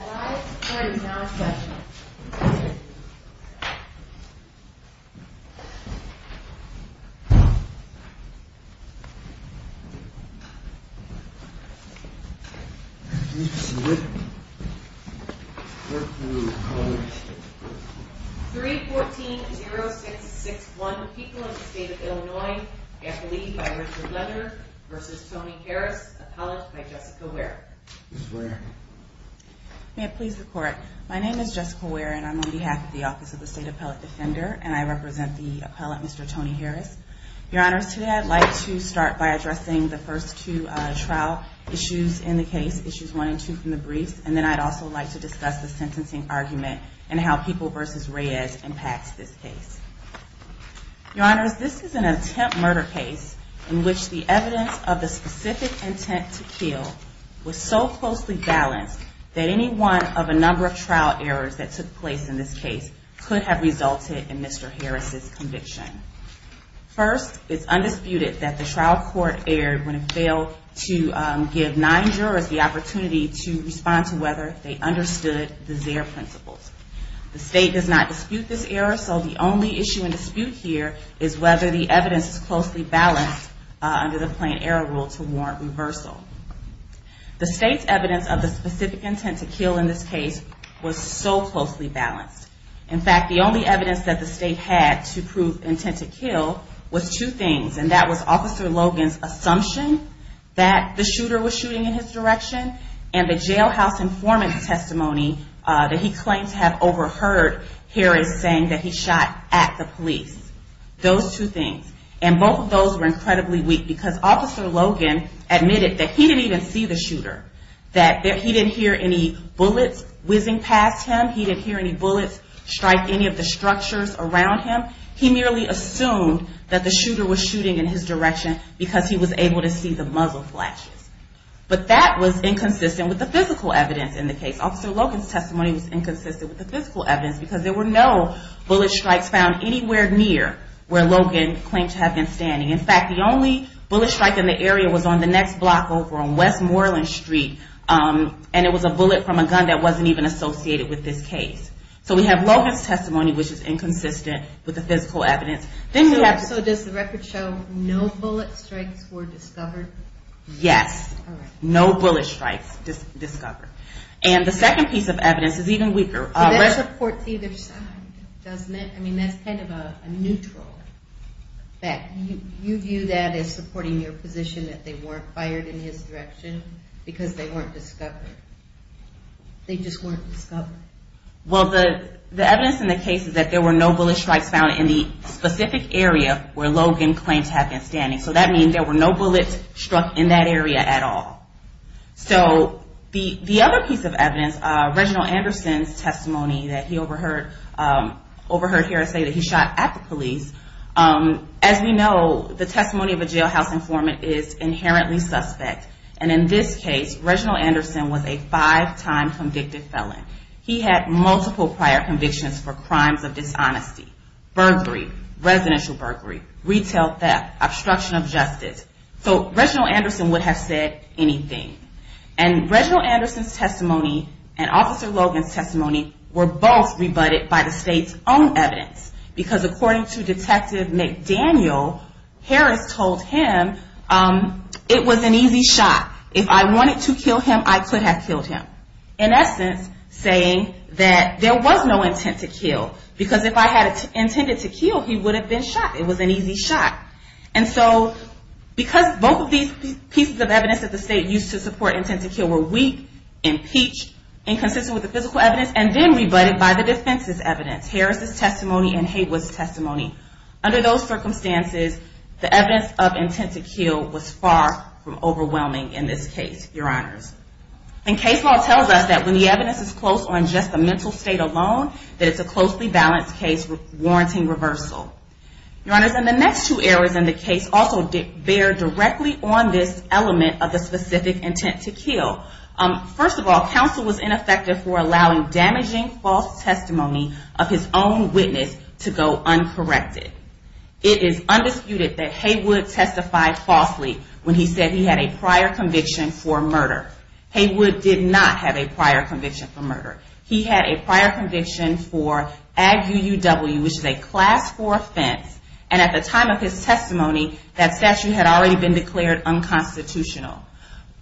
3.14.0661 People in the state of Illinois get the lead by Richard Leonard v. Tony Harris, appellate by Jessica Ware May it please the court, my name is Jessica Ware and I'm on behalf of the Office of the State Appellate Defender and I represent the appellate Mr. Tony Harris. Your honors, today I'd like to start by addressing the first two trial issues in the case, issues one and two from the briefs, and then I'd also like to discuss the sentencing argument and how People v. Reyes impacts this case. Your honors, this is an attempt murder case in which the evidence of the specific intent to kill was so closely balanced that any one of a number of trial errors that took place in this case could have resulted in Mr. Harris' conviction. First, it's undisputed that the trial court erred when it failed to give nine jurors the opportunity to respond to whether they understood the Zare principles. The state does not dispute this error, so the only issue in dispute here is whether the evidence is closely balanced under the plain error rule to warrant reversal. The state's evidence of the specific intent to kill in this case was so closely balanced. In fact, the only evidence that the state had to prove intent to kill was two things. And that was Officer Logan's assumption that the shooter was shooting in his direction and the jailhouse informant's testimony that he claims to have overheard Harris saying that he shot at the police. Those two things. And both of those were incredibly weak because Officer Logan admitted that he didn't even see the shooter. That he didn't hear any bullets whizzing past him. He didn't hear any bullets strike any of the structures around him. He merely assumed that the shooter was shooting in his direction because he was able to see the muzzle flashes. But that was inconsistent with the physical evidence in the case. Officer Logan's testimony was inconsistent with the physical evidence because there were no bullet strikes found anywhere near where Logan claimed to have been standing. In fact, the only bullet strike in the area was on the next block over on West Moreland Street, and it was a bullet from a gun that wasn't even associated with this case. So we have Logan's testimony, which is inconsistent with the physical evidence. So does the record show no bullet strikes were discovered? Yes. No bullet strikes discovered. And the second piece of evidence is even weaker. But that supports either side, doesn't it? I mean, that's kind of a neutral fact. You view that as supporting your position that they weren't fired in his direction because they weren't discovered. They just weren't discovered. Well, the evidence in the case is that there were no bullet strikes found in the specific area where Logan claimed to have been standing. So that means there were no bullets struck in that area at all. So the other piece of evidence, Reginald Anderson's testimony that he overheard here say that he shot at the police. As we know, the testimony of a jailhouse informant is inherently suspect. And in this case, Reginald Anderson was a five-time convicted felon. He had multiple prior convictions for crimes of dishonesty, burglary, residential burglary, retail theft, obstruction of justice. So Reginald Anderson would have said anything. And Reginald Anderson's testimony and Officer Logan's testimony were both rebutted by the state's own evidence. Because according to Detective McDaniel, Harris told him, it was an easy shot. If I wanted to kill him, I could have killed him. In essence, saying that there was no intent to kill. Because if I had intended to kill, he would have been shot. It was an easy shot. And so because both of these pieces of evidence that the state used to support intent to kill were weak, impeached, inconsistent with the physical evidence, and then rebutted by the defense's evidence, Harris's testimony and Haywood's testimony. Under those circumstances, the evidence of intent to kill was far from overwhelming in this case, your honors. And case law tells us that when the evidence is close on just the mental state alone, that it's a closely balanced case warranting reversal. Your honors, and the next two errors in the case also bear directly on this element of the specific intent to kill. First of all, counsel was ineffective for allowing damaging false testimony of his own witness to go uncorrected. It is undisputed that Haywood testified falsely when he said he had a prior conviction for murder. Haywood did not have a prior conviction for murder. He had a prior conviction for ag UUW, which is a class 4 offense. And at the time of his testimony, that statute had already been declared unconstitutional.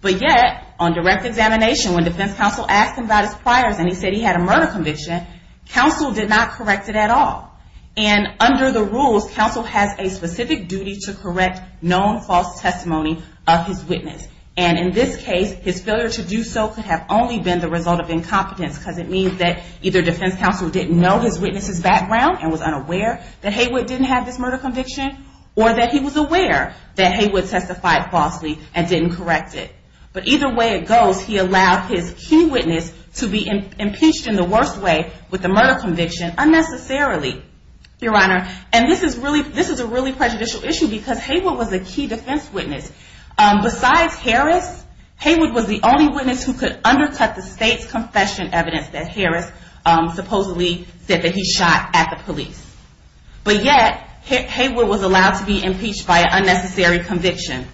But yet, on direct examination, when defense counsel asked him about his priors and he said he had a murder conviction, counsel did not correct it at all. And under the rules, counsel has a specific duty to correct known false testimony of his witness. And in this case, his failure to do so could have only been the result of incompetence, because it means that either defense counsel didn't know his witness's background and was unaware that Haywood didn't have this murder conviction, or that he was aware that Haywood testified falsely and didn't correct it. But either way it goes, he allowed his key witness to be impeached in the worst way with the murder conviction unnecessarily, Your Honor. And this is a really prejudicial issue because Haywood was a key defense witness. Besides Harris, Haywood was the only witness who could undercut the state's confession evidence that Harris supposedly said that he shot at the police. But yet, Haywood was allowed to be impeached by an unnecessary conviction.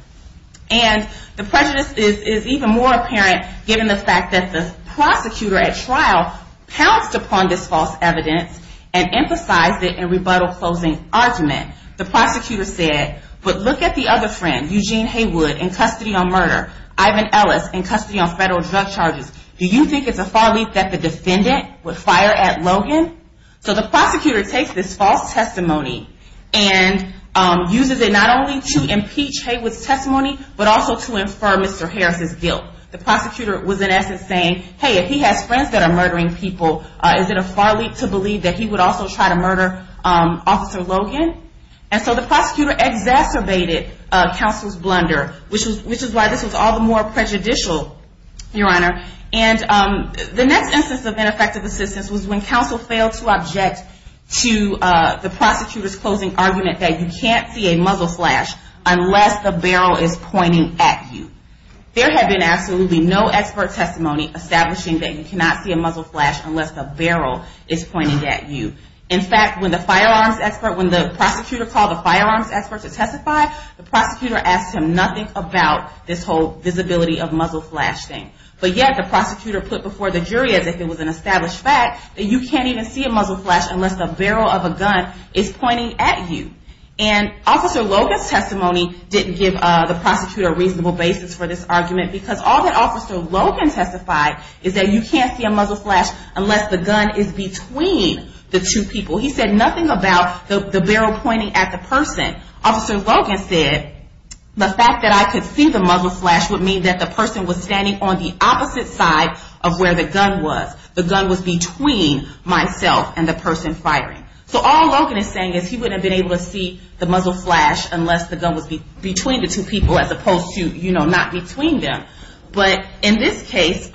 And the prejudice is even more apparent given the fact that the prosecutor at trial pounced upon this false evidence and emphasized it in rebuttal closing argument. The prosecutor said, but look at the other friend, Eugene Haywood, in custody on murder. Ivan Ellis, in custody on federal drug charges. Do you think it's a far leap that the defendant would fire at Logan? So the prosecutor takes this false testimony and uses it not only to impeach Haywood's testimony, but also to infer Mr. Harris' guilt. The prosecutor was in essence saying, hey, if he has friends that are murdering people, is it a far leap to believe that he would also try to murder Officer Logan? And so the prosecutor exacerbated counsel's blunder, which is why this was all the more prejudicial, Your Honor. And the next instance of ineffective assistance was when counsel failed to object to the prosecutor's closing argument that you can't see a muzzle flash unless the barrel is pointing at you. There had been absolutely no expert testimony establishing that you cannot see a muzzle flash unless the barrel is pointing at you. In fact, when the firearms expert, when the prosecutor called the firearms expert to testify, the prosecutor asked him nothing about this whole visibility of muzzle flash thing. But yet the prosecutor put before the jury as if it was an established fact that you can't even see a muzzle flash unless the barrel of a gun is pointing at you. And Officer Logan's testimony didn't give the prosecutor a reasonable basis for this argument because all that Officer Logan testified is that you can't see a muzzle flash unless the gun is between the two people. He said nothing about the barrel pointing at the person. Officer Logan said the fact that I could see the muzzle flash would mean that the person was standing on the opposite side of where the gun was. The gun was between myself and the person firing. So all Logan is saying is he wouldn't have been able to see the muzzle flash unless the gun was between the two people as opposed to, you know, not between them. But in this case,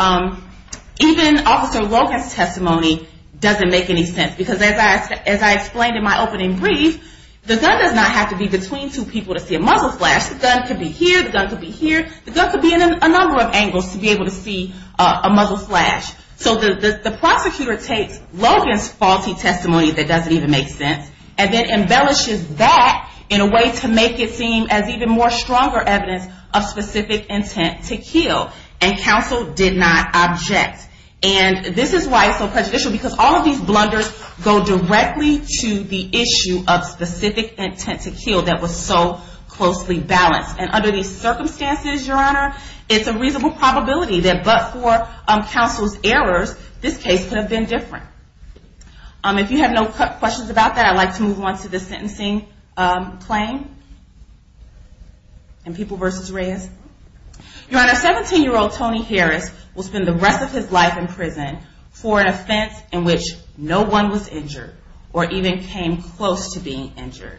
even Officer Logan's testimony doesn't make any sense because as I explained in my opening brief, the gun does not have to be between two people to see a muzzle flash. The gun could be here, the gun could be here. The gun could be in a number of angles to be able to see a muzzle flash. So the prosecutor takes Logan's faulty testimony that doesn't even make sense and then embellishes that in a way to make it seem as even more stronger evidence of specific intent to kill. And counsel did not object. And this is why it's so prejudicial because all of these blunders go directly to the issue of specific intent to kill that was so closely balanced. And under these circumstances, Your Honor, it's a reasonable probability that but for counsel's errors, this case could have been different. If you have no questions about that, I'd like to move on to the sentencing claim in People v. Reyes. Your Honor, 17-year-old Tony Harris will spend the rest of his life in prison for an offense in which no one was injured or even came close to being injured.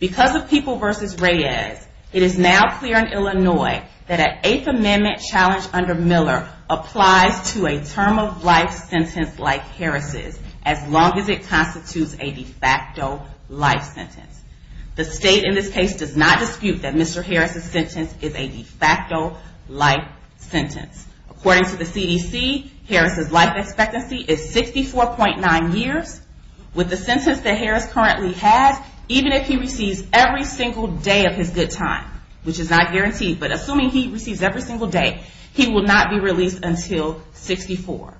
Because of People v. Reyes, it is now clear in Illinois that an Eighth Amendment challenge under Miller applies to a term of life sentence like Harris's as long as it constitutes a de facto life sentence. The state in this case does not dispute that Mr. Harris's sentence is a de facto life sentence. According to the CDC, Harris's life expectancy is 64.9 years. With the sentence that Harris currently has, even if he receives every single day of his good time, which is not guaranteed, but assuming he receives every single day, he will not be released until 64,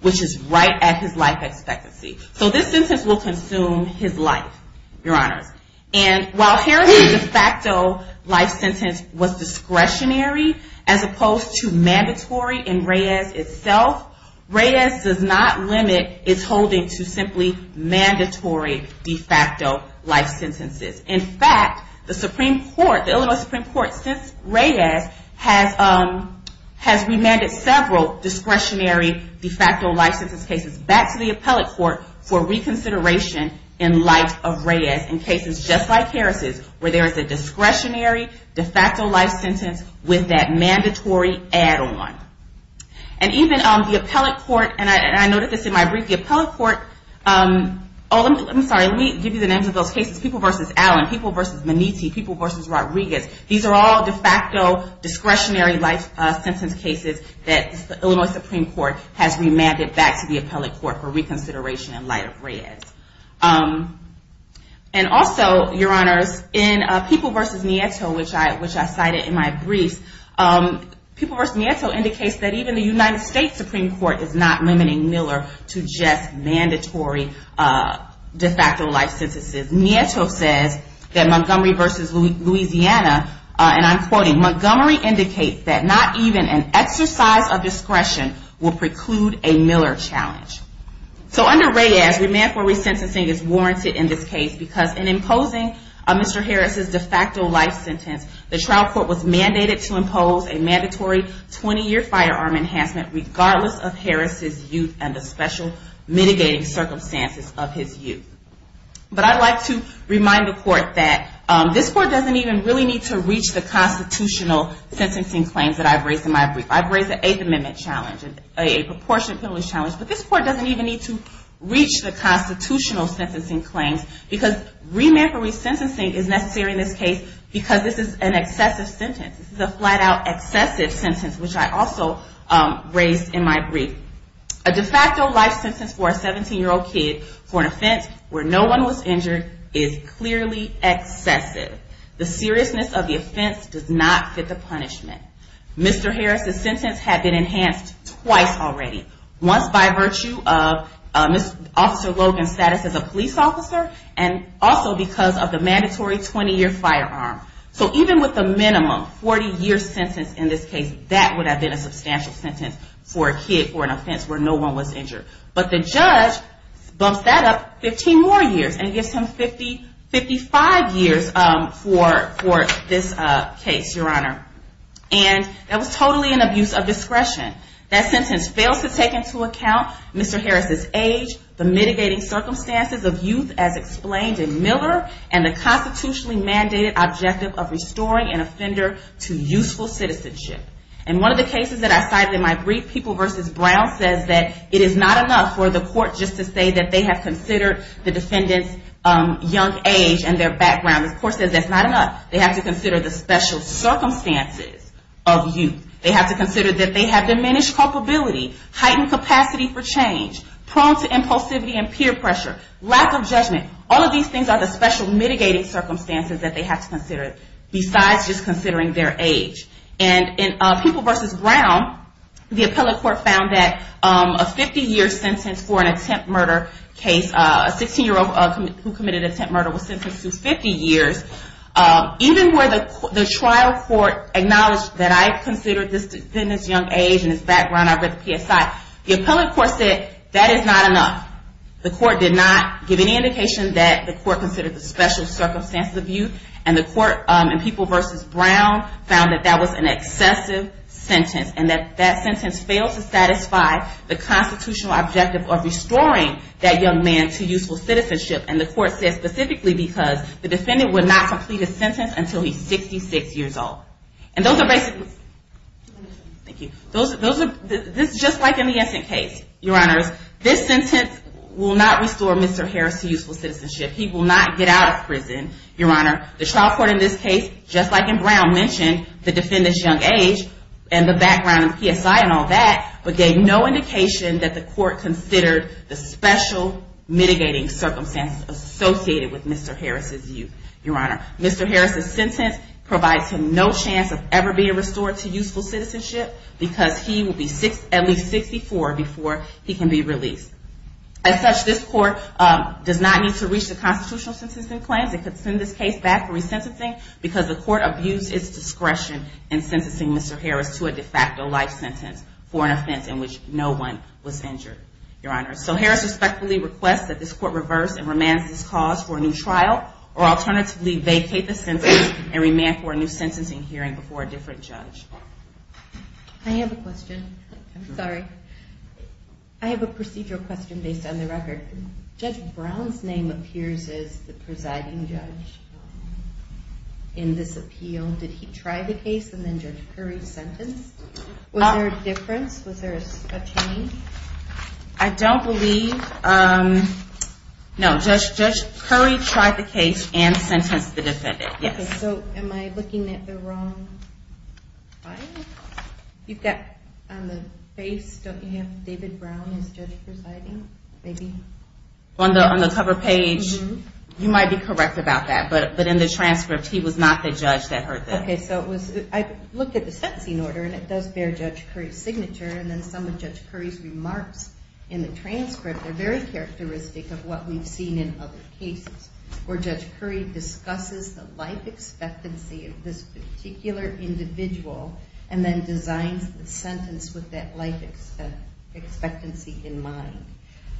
which is right at his life expectancy. So this sentence will consume his life, Your Honors. And while Harris's de facto life sentence was discretionary as opposed to mandatory in Reyes itself, Reyes does not limit its holding to simply mandatory de facto life sentences. In fact, the Supreme Court, the Illinois Supreme Court, since Reyes has remanded several discretionary de facto life sentence cases back to the appellate court for reconsideration in light of Reyes. In cases just like Harris's, where there is a discretionary de facto life sentence with that mandatory add-on. And even the appellate court, and I noted this in my brief, the appellate court, let me give you the names of those cases, People v. Allen, People v. Manitti, People v. Rodriguez. These are all de facto discretionary life sentence cases that the Illinois Supreme Court has remanded back to the appellate court for reconsideration in light of Reyes. And also, Your Honors, in People v. Nieto, which I cited in my briefs, People v. Nieto indicates that even the United States Supreme Court is not limiting Miller to just mandatory de facto life sentences. Nieto says that Montgomery v. Louisiana, and I'm quoting, Montgomery indicates that not even an exercise of discretion will preclude a Miller challenge. So under Reyes, remand for resentencing is warranted in this case, because in imposing Mr. Harris's de facto life sentence, the trial court was mandated to impose a mandatory 20-year firearm enhancement regardless of Harris's youth and the special mitigating circumstances of his youth. But I'd like to remind the court that this court doesn't even really need to reach the constitutional sentencing claims that I've raised in my brief. I've raised an Eighth Amendment challenge, a proportionate penalty challenge, but this court doesn't even need to reach the constitutional sentencing claims, because remand for resentencing is necessary in this case because this is an excessive sentence. This is a flat-out excessive sentence, which I also raised in my brief. A de facto life sentence for a 17-year-old kid for an offense where no one was injured is clearly excessive. The seriousness of the offense does not fit the punishment. Mr. Harris's sentence had been enhanced twice already, once by virtue of Officer Logan's status as a police officer, and also because of the mandatory 20-year firearm. So even with the minimum 40-year sentence in this case, that would have been a substantial sentence for a kid for an offense where no one was injured. But the judge bumps that up 15 more years, and gives him 55 years for this case, Your Honor. And that was totally an abuse of discretion. That sentence fails to take into account Mr. Harris's age, the mitigating circumstances of youth, as explained in Miller, and the constitutionally mandated objective of restoring an offender to useful citizenship. And one of the cases that I cited in my brief, People v. Brown, says that it is not enough for the court just to say that they have considered the defendant's young age and their background. The court says that's not enough. They have to consider the special circumstances of youth. They have to consider that they have diminished culpability, heightened capacity for change, prone to impulsivity and peer pressure, lack of judgment. All of these things are the special mitigating circumstances that they have to consider, besides just considering their age. And in People v. Brown, the appellate court found that a 50-year sentence for an attempt murder case, a 16-year-old who committed attempt murder was sentenced to 50 years. Even where the trial court acknowledged that I considered this defendant's young age and his background, I read the PSI, the appellate court said that is not enough. The court did not give any indication that the court considered the special circumstances of youth. And the court in People v. Brown found that that was an excessive sentence and that that sentence failed to satisfy the constitutional objective of restoring that young man to useful citizenship. And the court said specifically because the defendant would not complete his sentence until he's 66 years old. Thank you. This is just like in the Essent case, Your Honors. This sentence will not restore Mr. Harris to useful citizenship. He will not get out of prison, Your Honor. The trial court in this case, just like in Brown, mentioned the defendant's young age and the background and PSI and all that, but gave no indication that the court considered the special mitigating circumstances associated with Mr. Harris' youth, Your Honor. Mr. Harris' sentence provides him no chance of ever being restored to useful citizenship because he will be at least 64 before he can be released. As such, this court does not need to reach the constitutional sentencing claims. It could send this case back for resentencing because the court abused its discretion in sentencing Mr. Harris to a de facto life sentence for an offense in which no one was injured, Your Honor. So Harris respectfully requests that this court reverse and remand this cause for a new trial or alternatively vacate the sentence and remand for a new sentencing hearing before a different judge. I have a question. I'm sorry. I have a procedural question based on the record. Judge Brown's name appears as the presiding judge in this appeal. Did he try the case and then Judge Curry sentenced? Was there a difference? Was there a change? I don't believe... No, Judge Curry tried the case and sentenced the defendant. So am I looking at the wrong file? You've got on the face, don't you have David Brown as judge presiding? On the cover page, you might be correct about that. But in the transcript, he was not the judge that heard that. Okay, so I looked at the sentencing order and it does bear Judge Curry's signature and then some of Judge Curry's remarks in the transcript are very characteristic of what we've seen in other cases where Judge Curry discusses the life expectancy of this particular individual and then designs the sentence with that life expectancy in mind.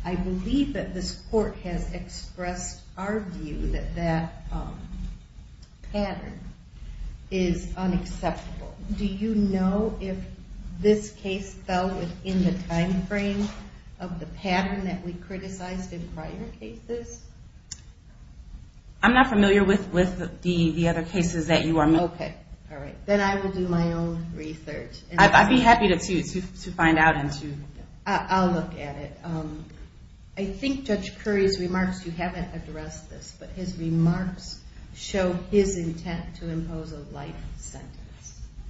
I believe that this court has expressed our view that that pattern is unacceptable. Do you know if this case fell within the time frame of the pattern that we criticized in prior cases? I'm not familiar with the other cases that you are... Okay, alright. Then I will do my own research. I'd be happy to find out and to... I'll look at it. I think Judge Curry's remarks, you haven't addressed this, but his remarks show his intent to impose a life sentence.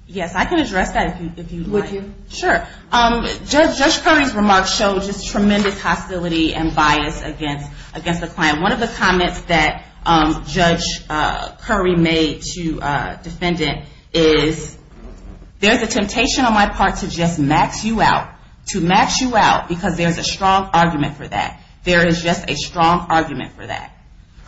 Yes, I can address that if you'd like. Would you? Sure. Judge Curry's remarks show just tremendous hostility and bias against the client. One of the comments that Judge Curry made to a defendant is, there's a temptation on my part to just max you out. To max you out because there's a strong argument for that. There is just a strong argument for that.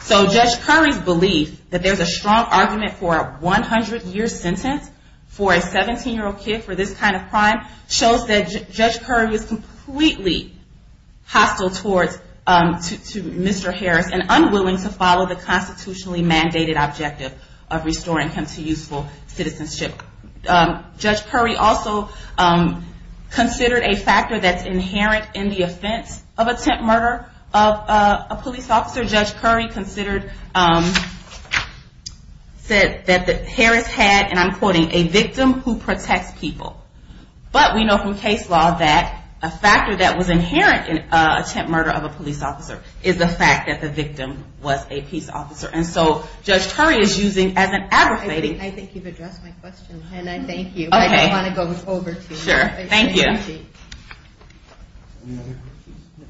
So Judge Curry's belief that there's a strong argument for a 100-year sentence for a 17-year-old kid for this kind of crime shows that Judge Curry was completely hostile towards Mr. Harris and unwilling to follow the constitutionally mandated objective of restoring him to useful citizenship. Judge Curry also considered a factor that's inherent in the offense of attempt murder of a police officer. Judge Curry said that Harris had, and I'm quoting, a victim who protects people. But we know from case law that a factor that was inherent in attempt murder of a police officer is the fact that the victim was a police officer. And so Judge Curry is using as an aggravating... I think you've addressed my question, and I thank you. Okay. I don't want to go over to you. Sure. Thank you. Thank you. Any other questions? No.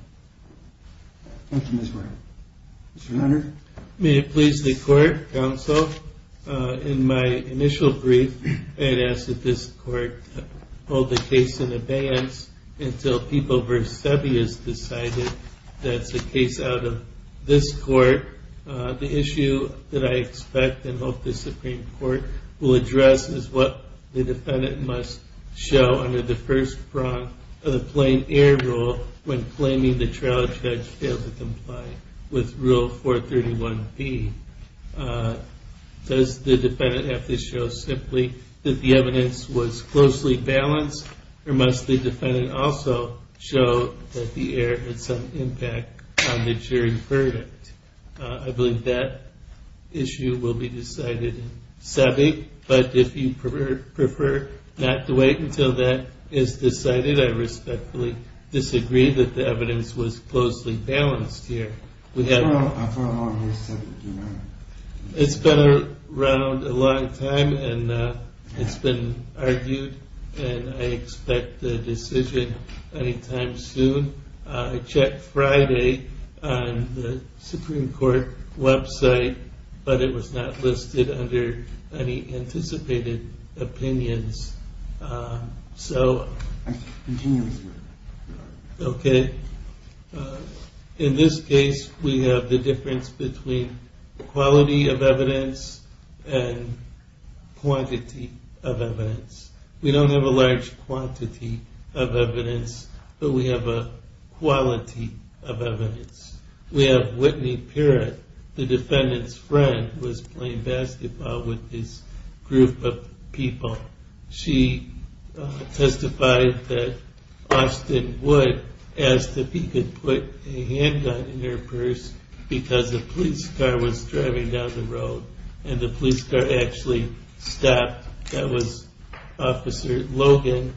Thank you, Ms. Murray. Mr. Hunter? May it please the court, counsel, in my initial brief, I had asked that this court hold the case in abeyance until People v. Seveus decided that it's a case out of this court. The issue that I expect and hope the Supreme Court will address is what the defendant must show under the first prong of the plain air rule when claiming the trial judge failed to comply with Rule 431B. Does the defendant have to show simply that the evidence was closely balanced, or must the defendant also show that the error had some impact on the jury verdict? I believe that issue will be decided in Seveus, but if you prefer not to wait until that is decided, I respectfully disagree that the evidence was closely balanced here. How far along has Seveus been? It's been around a long time, and it's been argued, and I expect a decision anytime soon. I checked Friday on the Supreme Court website, but it was not listed under any anticipated opinions. So... Continue, Mr. Murray. Okay. In this case, we have the difference between quality of evidence and quantity of evidence. We don't have a large quantity of evidence, but we have a quality of evidence. We have Whitney Perret, the defendant's friend, who was playing basketball with this group of people. She testified that Austin Wood asked if he could put a handgun in her purse and the police car actually stopped. That was Officer Logan,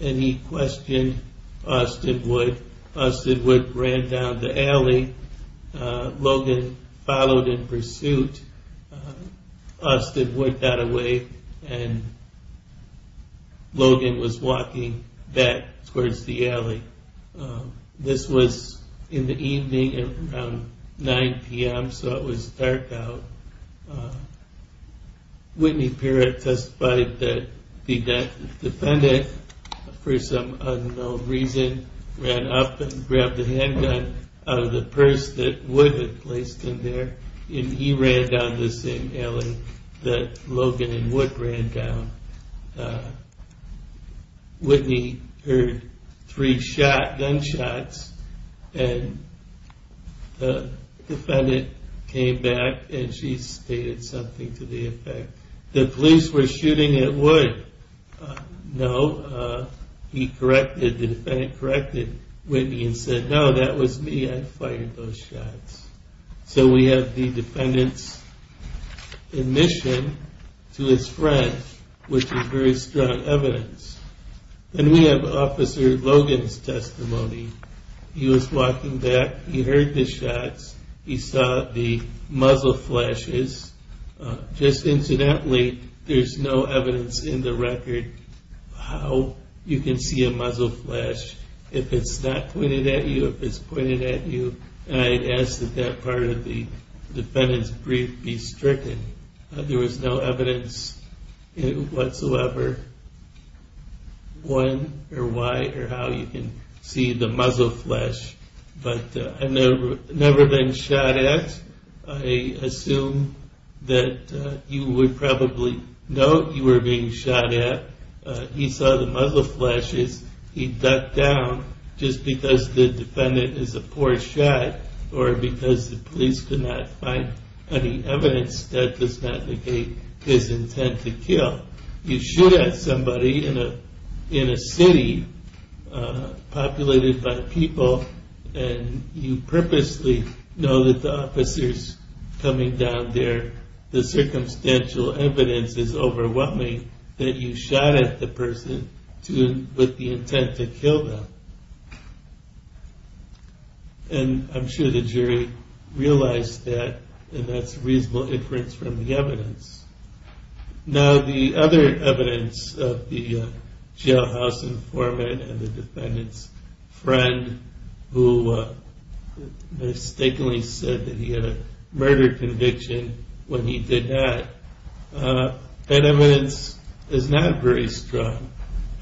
and he questioned Austin Wood. Austin Wood ran down the alley. Logan followed in pursuit. Austin Wood got away, and Logan was walking back towards the alley. This was in the evening around 9 p.m., so it was dark out. Whitney Perret testified that the defendant, for some unknown reason, ran up and grabbed the handgun out of the purse that Wood had placed in there, and he ran down the same alley that Logan and Wood ran down. Whitney heard three gunshots, and the defendant came back, and she stated something to the effect, the police were shooting at Wood. No, he corrected, the defendant corrected Whitney and said, no, that was me, I fired those shots. So we have the defendant's admission to his friend, which is very strong evidence. Then we have Officer Logan's testimony. He was walking back. He heard the shots. He saw the muzzle flashes. Just incidentally, there's no evidence in the record how you can see a muzzle flash if it's not pointed at you, if it's pointed at you, and I had asked that that part of the defendant's brief be stricken. There was no evidence whatsoever when or why or how you can see the muzzle flash, but I've never been shot at. I assume that you would probably know you were being shot at. He saw the muzzle flashes. He ducked down just because the defendant is a poor shot or because the police could not find any evidence that does not negate his intent to kill. You shoot at somebody in a city populated by people, and you purposely know that the officer's coming down there. The circumstantial evidence is overwhelming that you shot at the person with the intent to kill them, and I'm sure the jury realized that, and that's reasonable inference from the evidence. Now the other evidence of the jailhouse informant and the defendant's friend who mistakenly said that he had a murder conviction when he did not, that evidence is not very strong,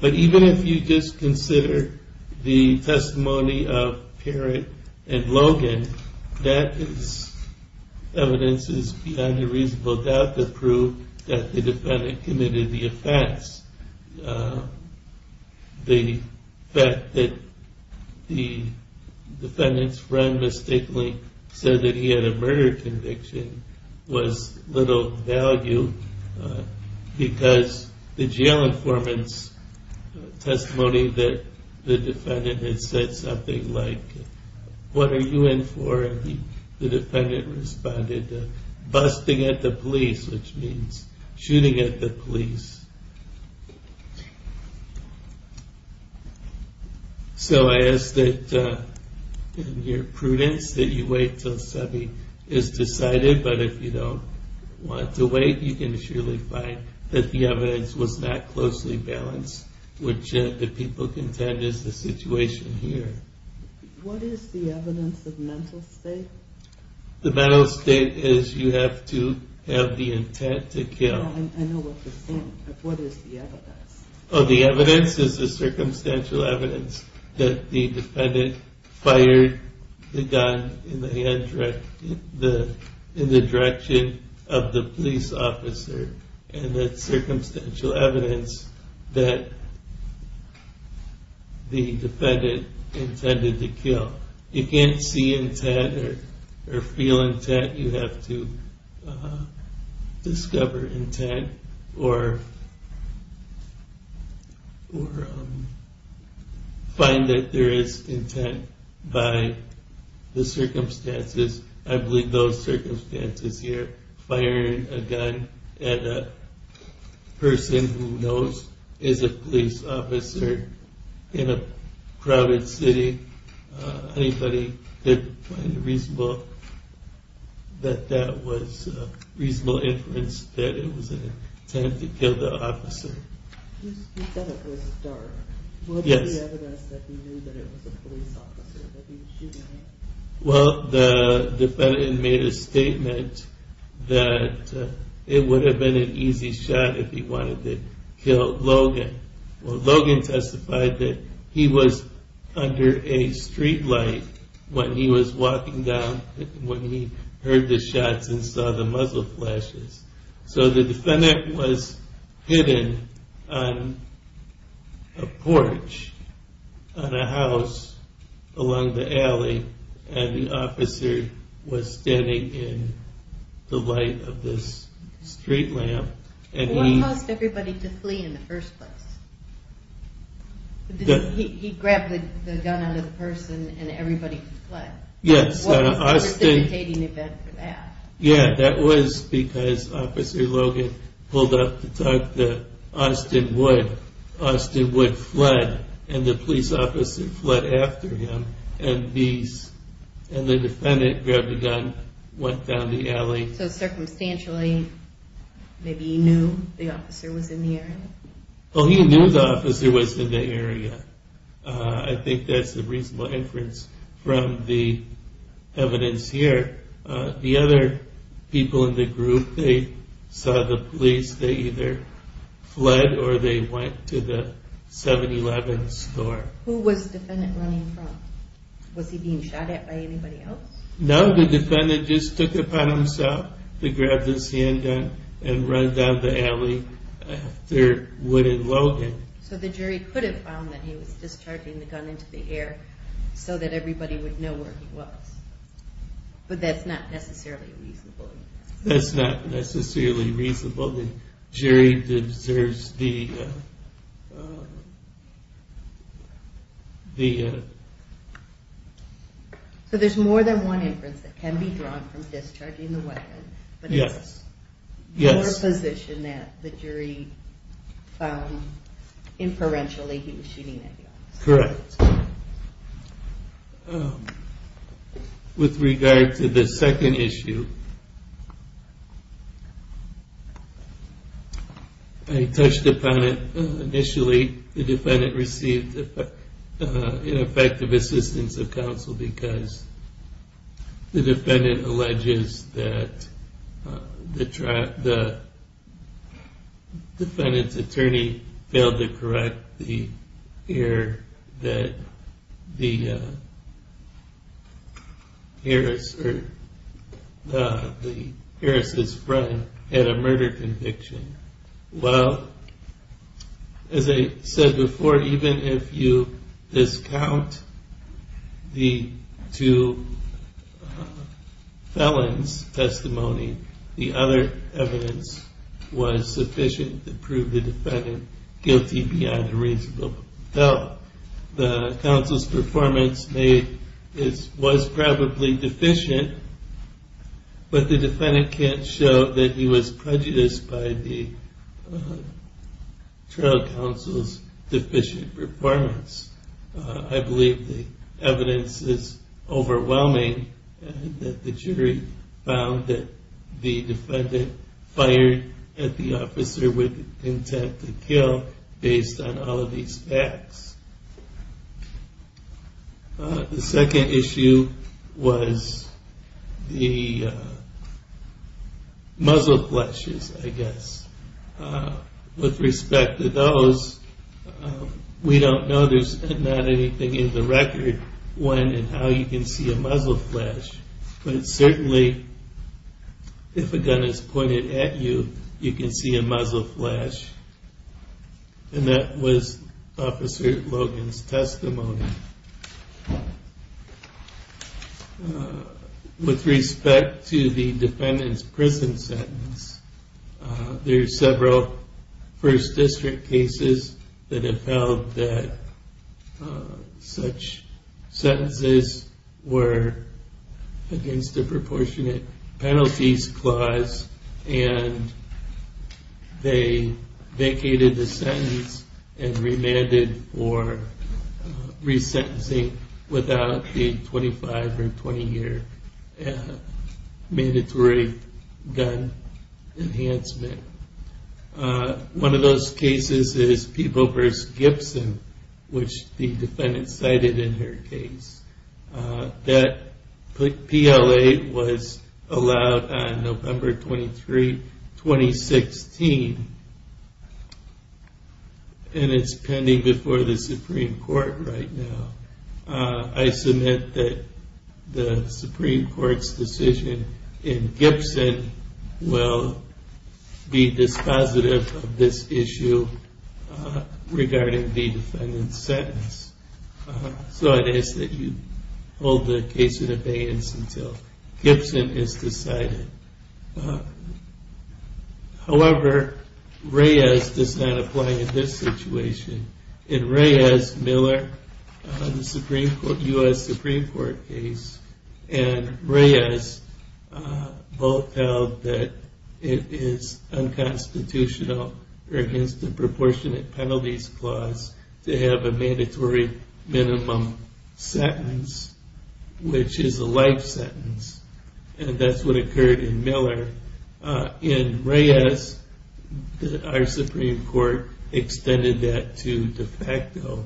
but even if you just consider the testimony of Parrott and Logan, that evidence is beyond a reasonable doubt to prove that the defendant committed the offense. The fact that the defendant's friend mistakenly said that he had a murder conviction was little value because the jail informant's testimony that the defendant had said something like, what are you in for, and the defendant responded, busting at the police, which means shooting at the police. So I ask that in your prudence that you wait until Sebby is decided, but if you don't want to wait, you can surely find that the evidence was not closely balanced, which the people contend is the situation here. What is the evidence of mental state? The mental state is you have to have the intent to kill. I know what you're saying, but what is the evidence? The evidence is the circumstantial evidence that the defendant fired the gun in the direction of the police officer, and the circumstantial evidence that the defendant intended to kill. You can't see intent or feel intent. You have to discover intent or find that there is intent by the circumstances. I believe those circumstances here, firing a gun at a person who knows is a police officer in a crowded city, anybody could find reasonable that that was reasonable inference that it was an attempt to kill the officer. You said it was dark. Yes. What is the evidence that you knew that it was a police officer that he was shooting at? Well, the defendant made a statement that it would have been an easy shot if he wanted to kill Logan. Well, Logan testified that he was under a streetlight when he was walking down, when he heard the shots and saw the muzzle flashes. So the defendant was hidden on a porch, on a house along the alley, and the officer was standing in the light of this streetlamp. What caused everybody to flee in the first place? He grabbed the gun out of the person and everybody fled. Yes. What was the precipitating event for that? Yes, that was because Officer Logan pulled up to talk to Austin Wood. Austin Wood fled and the police officer fled after him and the defendant grabbed the gun and went down the alley. So circumstantially, maybe he knew the officer was in the area? Well, he knew the officer was in the area. I think that is a reasonable inference from the evidence here. The other people in the group, they saw the police, they either fled or they went to the 7-Eleven store. Who was the defendant running from? Was he being shot at by anybody else? No, the defendant just took it upon himself to grab this handgun and run down the alley after Wood and Logan. So the jury could have found that he was discharging the gun into the air so that everybody would know where he was. But that's not necessarily reasonable. That's not necessarily reasonable. The jury deserves the... So there's more than one inference that can be drawn from discharging the weapon. Yes. But it's your position that the jury inferentially he was shooting at you. Correct. With regard to the second issue, I touched upon it initially. The defendant received ineffective assistance of counsel because the defendant alleges that the defendant's attorney failed to correct the error that the Harris' friend had a murder conviction. Well, as I said before, even if you discount the two felons' testimony, the other evidence was sufficient to prove the defendant guilty beyond a reasonable doubt. The counsel's performance was probably deficient, but the defendant can't show that he was prejudiced by the trial counsel's deficient performance. I believe the evidence is overwhelming that the jury found that the defendant fired at the officer with intent to kill based on all of these facts. The second issue was the muzzle flashes, I guess. With respect to those, we don't know. There's not anything in the record when and how you can see a muzzle flash. But certainly, if a gun is pointed at you, you can see a muzzle flash. And that was Officer Logan's testimony. With respect to the defendant's prison sentence, there are several First District cases that have held that such sentences were against the Proportionate Penalties Clause. And they vacated the sentence and remanded for resentencing without the 25 or 20-year mandatory gun enhancement. One of those cases is Peeble v. Gibson, which the defendant cited in her case. That PLA was allowed on November 23, 2016, and it's pending before the Supreme Court right now. I submit that the Supreme Court's decision in Gibson will be dispositive of this issue regarding the defendant's sentence. So it is that you hold the case in abeyance until Gibson is decided. However, Reyes does not apply in this situation. In Reyes-Miller, the U.S. Supreme Court case, and Reyes both held that it is unconstitutional or against the Proportionate Penalties Clause to have a mandatory minimum sentence, which is a life sentence. And that's what occurred in Miller. In Reyes, our Supreme Court extended that to de facto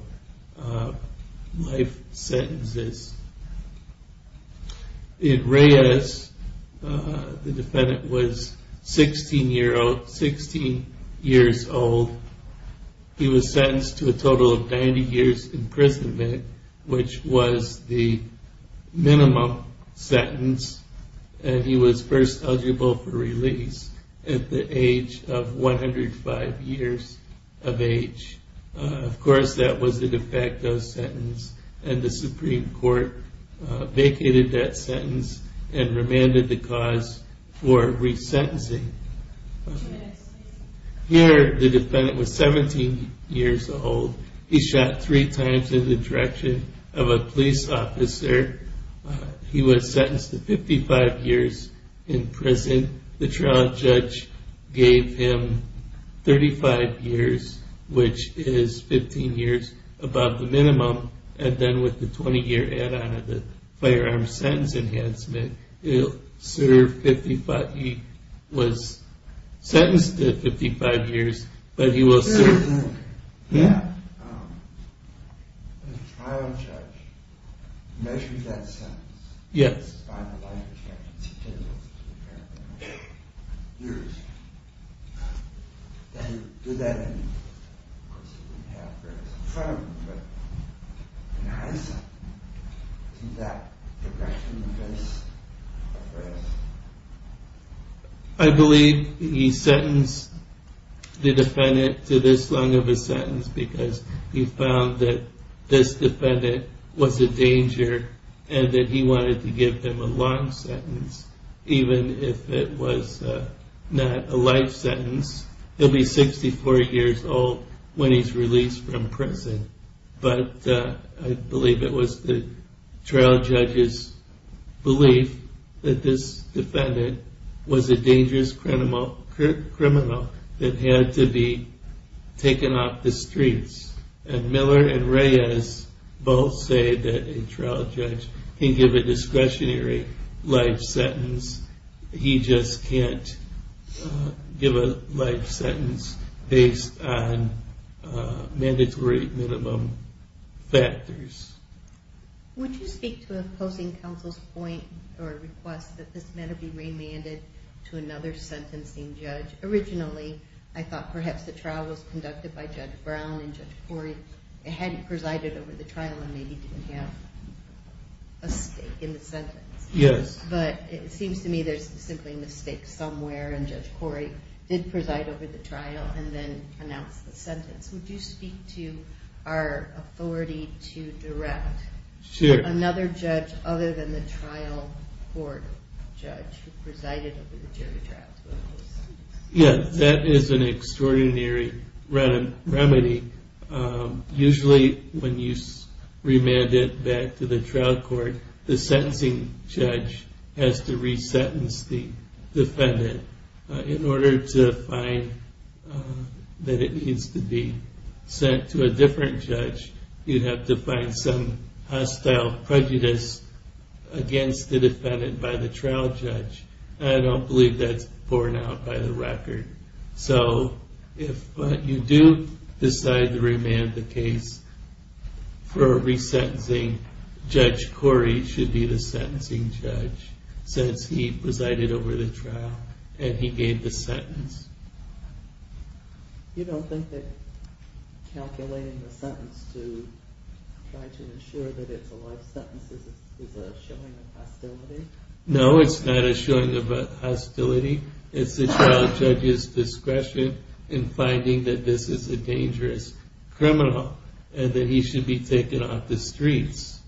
life sentences. In Reyes, the defendant was 16 years old. He was sentenced to a total of 90 years imprisonment, which was the minimum sentence. And he was first eligible for release at the age of 105 years of age. Of course, that was a de facto sentence, and the Supreme Court vacated that sentence and remanded the cause for resentencing. Here, the defendant was 17 years old. He shot three times in the direction of a police officer. He was sentenced to 55 years in prison. The trial judge gave him 35 years, which is 15 years above the minimum. And then with the 20-year add-on of the firearm sentence enhancement, he was sentenced to 55 years, but he was served. The trial judge measured that sentence by the life expectancy of the defendant. Did that increase the sentence? I believe he sentenced the defendant to this long of a sentence because he found that this defendant was a danger and that he wanted to give him a long sentence, even if it was not a life sentence. He'll be 64 years old when he's released from prison. But I believe it was the trial judge's belief that this defendant was a dangerous criminal that had to be taken off the streets. And Miller and Reyes both say that a trial judge can give a discretionary life sentence. He just can't give a life sentence based on mandatory minimum factors. Would you speak to opposing counsel's point or request that this matter be remanded to another sentencing judge? Originally, I thought perhaps the trial was conducted by Judge Brown and Judge Corey. It hadn't presided over the trial and maybe didn't have a stake in the sentence. But it seems to me there's simply a mistake somewhere and Judge Corey did preside over the trial and then announce the sentence. Would you speak to our authority to direct another judge other than the trial court judge who presided over the jury trials? Yeah, that is an extraordinary remedy. Usually when you remand it back to the trial court, the sentencing judge has to re-sentence the defendant. In order to find that it needs to be sent to a different judge, you'd have to find some hostile prejudice against the defendant by the trial judge. I don't believe that's borne out by the record. So if you do decide to remand the case for re-sentencing, Judge Corey should be the sentencing judge since he presided over the trial and he gave the sentence. You don't think that calculating the sentence to try to ensure that it's a life sentence is a showing of hostility? No, it's not a showing of hostility. It's the trial judge's discretion in finding that this is a dangerous criminal and that he should be taken off the streets.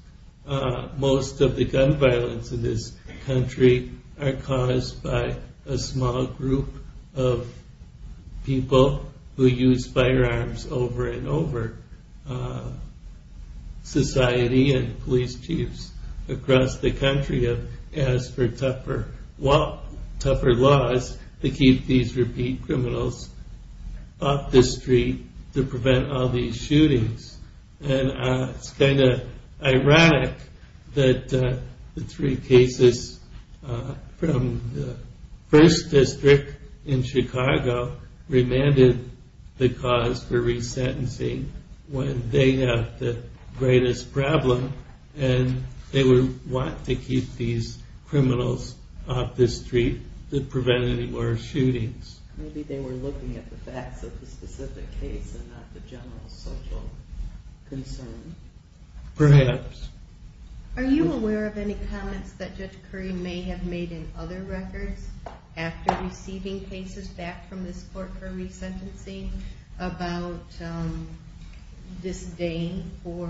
Most of the gun violence in this country are caused by a small group of people who use firearms over and over. Society and police chiefs across the country have asked for tougher laws to keep these repeat criminals off the street to prevent all these shootings. It's kind of ironic that the three cases from the first district in Chicago remanded the cause for re-sentencing when they have the greatest problem and they would want to keep these criminals off the street to prevent any more shootings. Maybe they were looking at the facts of the specific case and not the general social concern. Perhaps. Are you aware of any comments that Judge Corey may have made in other records after receiving cases back from this court for re-sentencing about disdain for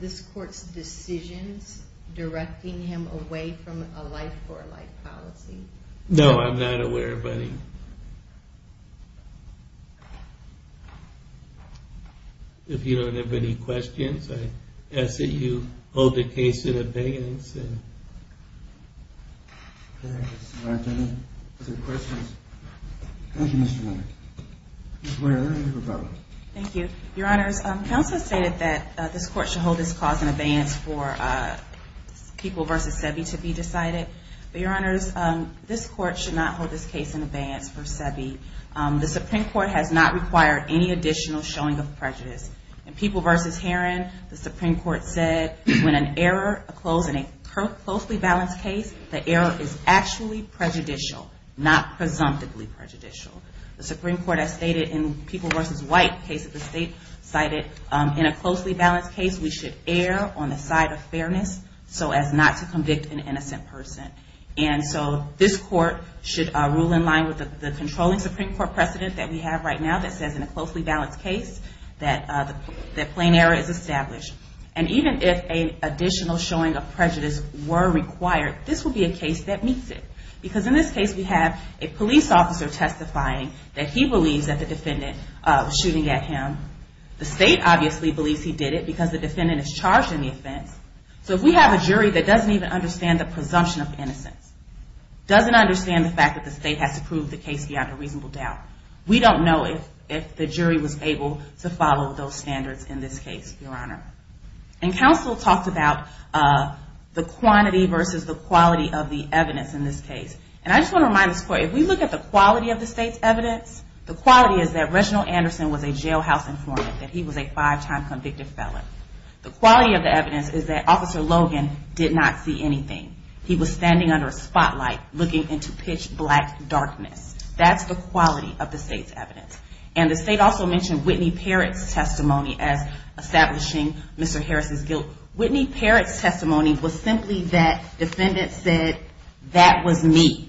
this court's decisions directing him away from a life for life policy? No, I'm not aware of any. If you don't have any questions, I ask that you hold the case in abeyance. Thank you, Mr. Leonard. Thank you. Your Honors, counsel stated that this court should hold this cause in abeyance for People v. Sebi to be decided. Your Honors, this court should not hold this case in abeyance for Sebi. The Supreme Court has not required any additional showing of prejudice. In People v. Heron, the Supreme Court said when an error occurs in a closely balanced case, the error is actually prejudicial, not presumptively prejudicial. The Supreme Court has stated in People v. White case that the state cited, in a closely balanced case we should err on the side of fairness so as not to convict an innocent person. And so this court should rule in line with the controlling Supreme Court precedent that we have right now that says in a closely balanced case that plain error is established. And even if an additional showing of prejudice were required, this would be a case that meets it. Because in this case we have a police officer testifying that he believes that the defendant was shooting at him. The state obviously believes he did it because the defendant is charged in the offense. So if we have a jury that doesn't even understand the presumption of innocence, doesn't understand the fact that the state has to prove the case beyond a reasonable doubt, we don't know if the jury was able to follow those standards in this case, Your Honor. And counsel talked about the quantity versus the quality of the evidence in this case. And I just want to remind this court, if we look at the quality of the state's evidence, the quality is that Reginald Anderson was a jailhouse informant, that he was a five-time convicted felon. The quality of the evidence is that Officer Logan did not see anything. He was standing under a spotlight looking into pitch black darkness. That's the quality of the state's evidence. And the state also mentioned Whitney Parrott's testimony as establishing Mr. Harris' guilt. Whitney Parrott's testimony was simply that the defendant said, that was me.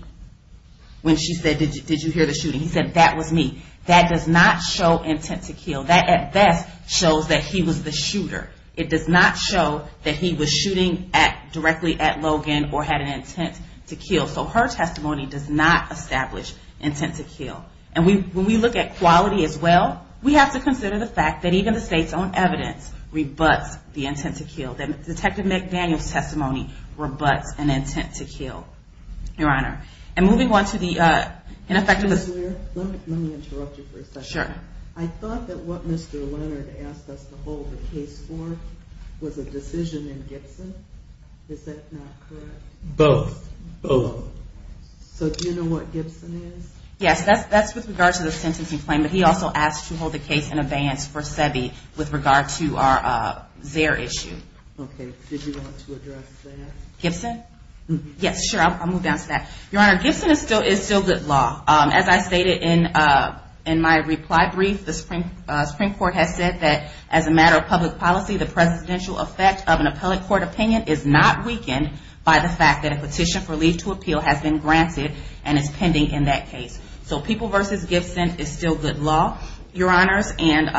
When she said, did you hear the shooting, he said, that was me. That does not show intent to kill. That at best shows that he was the shooter. It does not show that he was shooting directly at Logan or had an intent to kill. So her testimony does not establish intent to kill. And when we look at quality as well, we have to consider the fact that even the state's own evidence rebuts the intent to kill. That Detective McDaniel's testimony rebuts an intent to kill, Your Honor. And moving on to the ineffectiveness. Let me interrupt you for a second. Sure. I thought that what Mr. Leonard asked us to hold the case for was a decision in Gibson. Is that not correct? Both. Both. So do you know what Gibson is? Yes, that's with regard to the sentencing claim. But he also asked to hold the case in advance for Sebi with regard to our Zaire issue. Okay. Did you want to address that? Gibson? Yes, sure. I'll move down to that. Your Honor, Gibson is still good law. As I stated in my reply brief, the Supreme Court has said that as a matter of public policy, the presidential effect of an appellate court opinion is not weakened by the fact that a petition for leave to appeal has been granted and is pending in that case. So People v. Gibson is still good law, Your Honors. And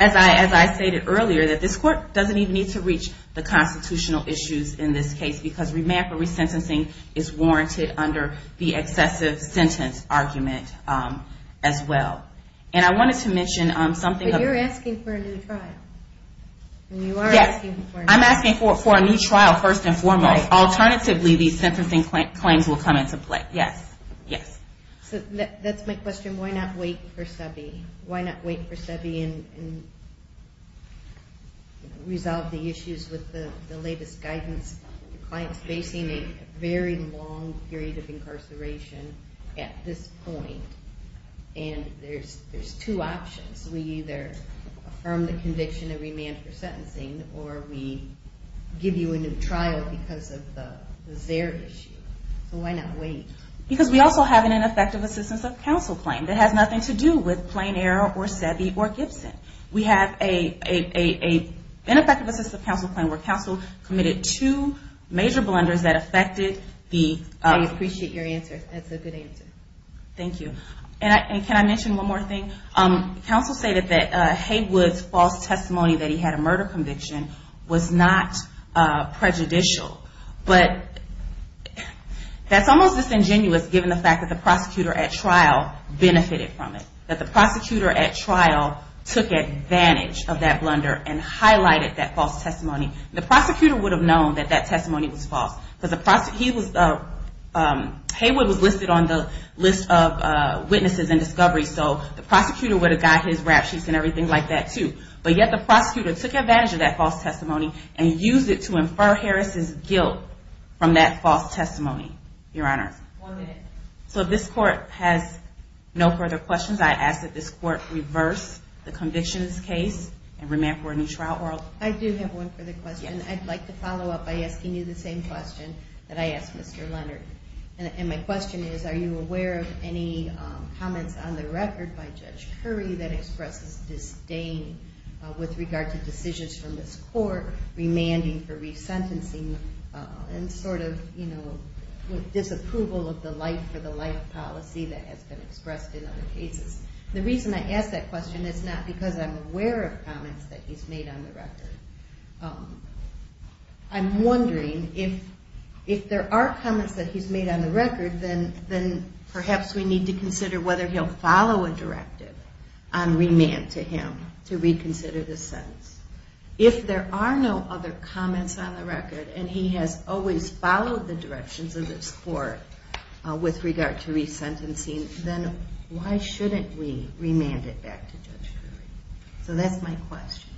as I stated earlier, that this Court doesn't even need to reach the constitutional issues in this case because remand for resentencing is warranted under the excessive sentence argument as well. And I wanted to mention something. But you're asking for a new trial. Yes. I'm asking for a new trial first and foremost. Alternatively, these sentencing claims will come into play. Yes. So that's my question. Why not wait for Sebi? Why not wait for Sebi and resolve the issues with the latest guidance? The client is facing a very long period of incarceration at this point. And there's two options. We either affirm the conviction and remand for sentencing, or we give you a new trial because of the Zaire issue. So why not wait? Because we also have an ineffective assistance of counsel claim that has nothing to do with Plain Air or Sebi or Gibson. We have an ineffective assistance of counsel claim where counsel committed two major blunders that affected the – I appreciate your answer. That's a good answer. Thank you. And can I mention one more thing? Counsel say that Haywood's false testimony that he had a murder conviction was not prejudicial. But that's almost disingenuous given the fact that the prosecutor at trial benefited from it. That the prosecutor at trial took advantage of that blunder and highlighted that false testimony. The prosecutor would have known that that testimony was false. Haywood was listed on the list of witnesses and discoveries. So the prosecutor would have got his rap sheets and everything like that, too. But yet the prosecutor took advantage of that false testimony and used it to infer Harris' guilt from that false testimony, Your Honor. One minute. So this Court has no further questions. I ask that this Court reverse the convictions case and remand for a new trial. I do have one further question. And I'd like to follow up by asking you the same question that I asked Mr. Leonard. And my question is, are you aware of any comments on the record by Judge Curry that expresses disdain with regard to decisions from this Court remanding for resentencing and sort of, you know, disapproval of the life-for-the-life policy that has been expressed in other cases? The reason I ask that question is not because I'm aware of comments that he's made on the record. I'm wondering if there are comments that he's made on the record, then perhaps we need to consider whether he'll follow a directive on remand to him to reconsider the sentence. If there are no other comments on the record and he has always followed the directions of this Court with regard to resentencing, then why shouldn't we remand it back to Judge Curry? So that's my question.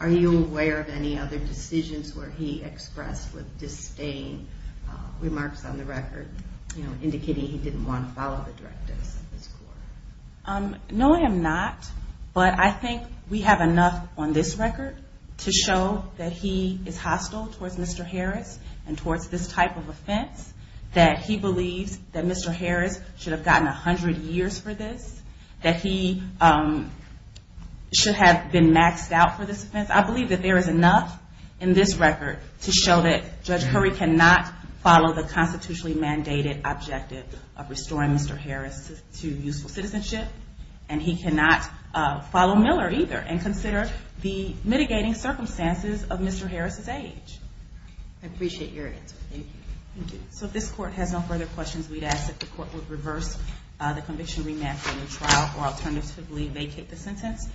Are you aware of any other decisions where he expressed with disdain remarks on the record, you know, indicating he didn't want to follow the directives of this Court? No, I am not. But I think we have enough on this record to show that he is hostile towards Mr. Harris and towards this type of offense, that he believes that Mr. Harris has served 100 years for this, that he should have been maxed out for this offense. I believe that there is enough in this record to show that Judge Curry cannot follow the constitutionally mandated objective of restoring Mr. Harris to useful citizenship, and he cannot follow Miller either and consider the mitigating circumstances of Mr. Harris's age. I appreciate your answer. Thank you. Thank you. So if this Court has no further questions, we'd ask that the Court would reverse the conviction, remand for a new trial, or alternatively vacate the sentence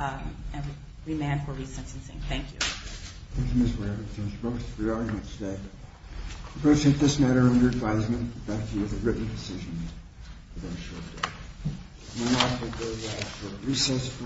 and remand for resentencing. Thank you. Thank you, Ms. Ware. Thank you, Ms. Brooks, for your argument today. I appreciate this matter and your advisement. Thank you. It was a written decision. We are adjourned. We now have the day off for recess from now. Thank you.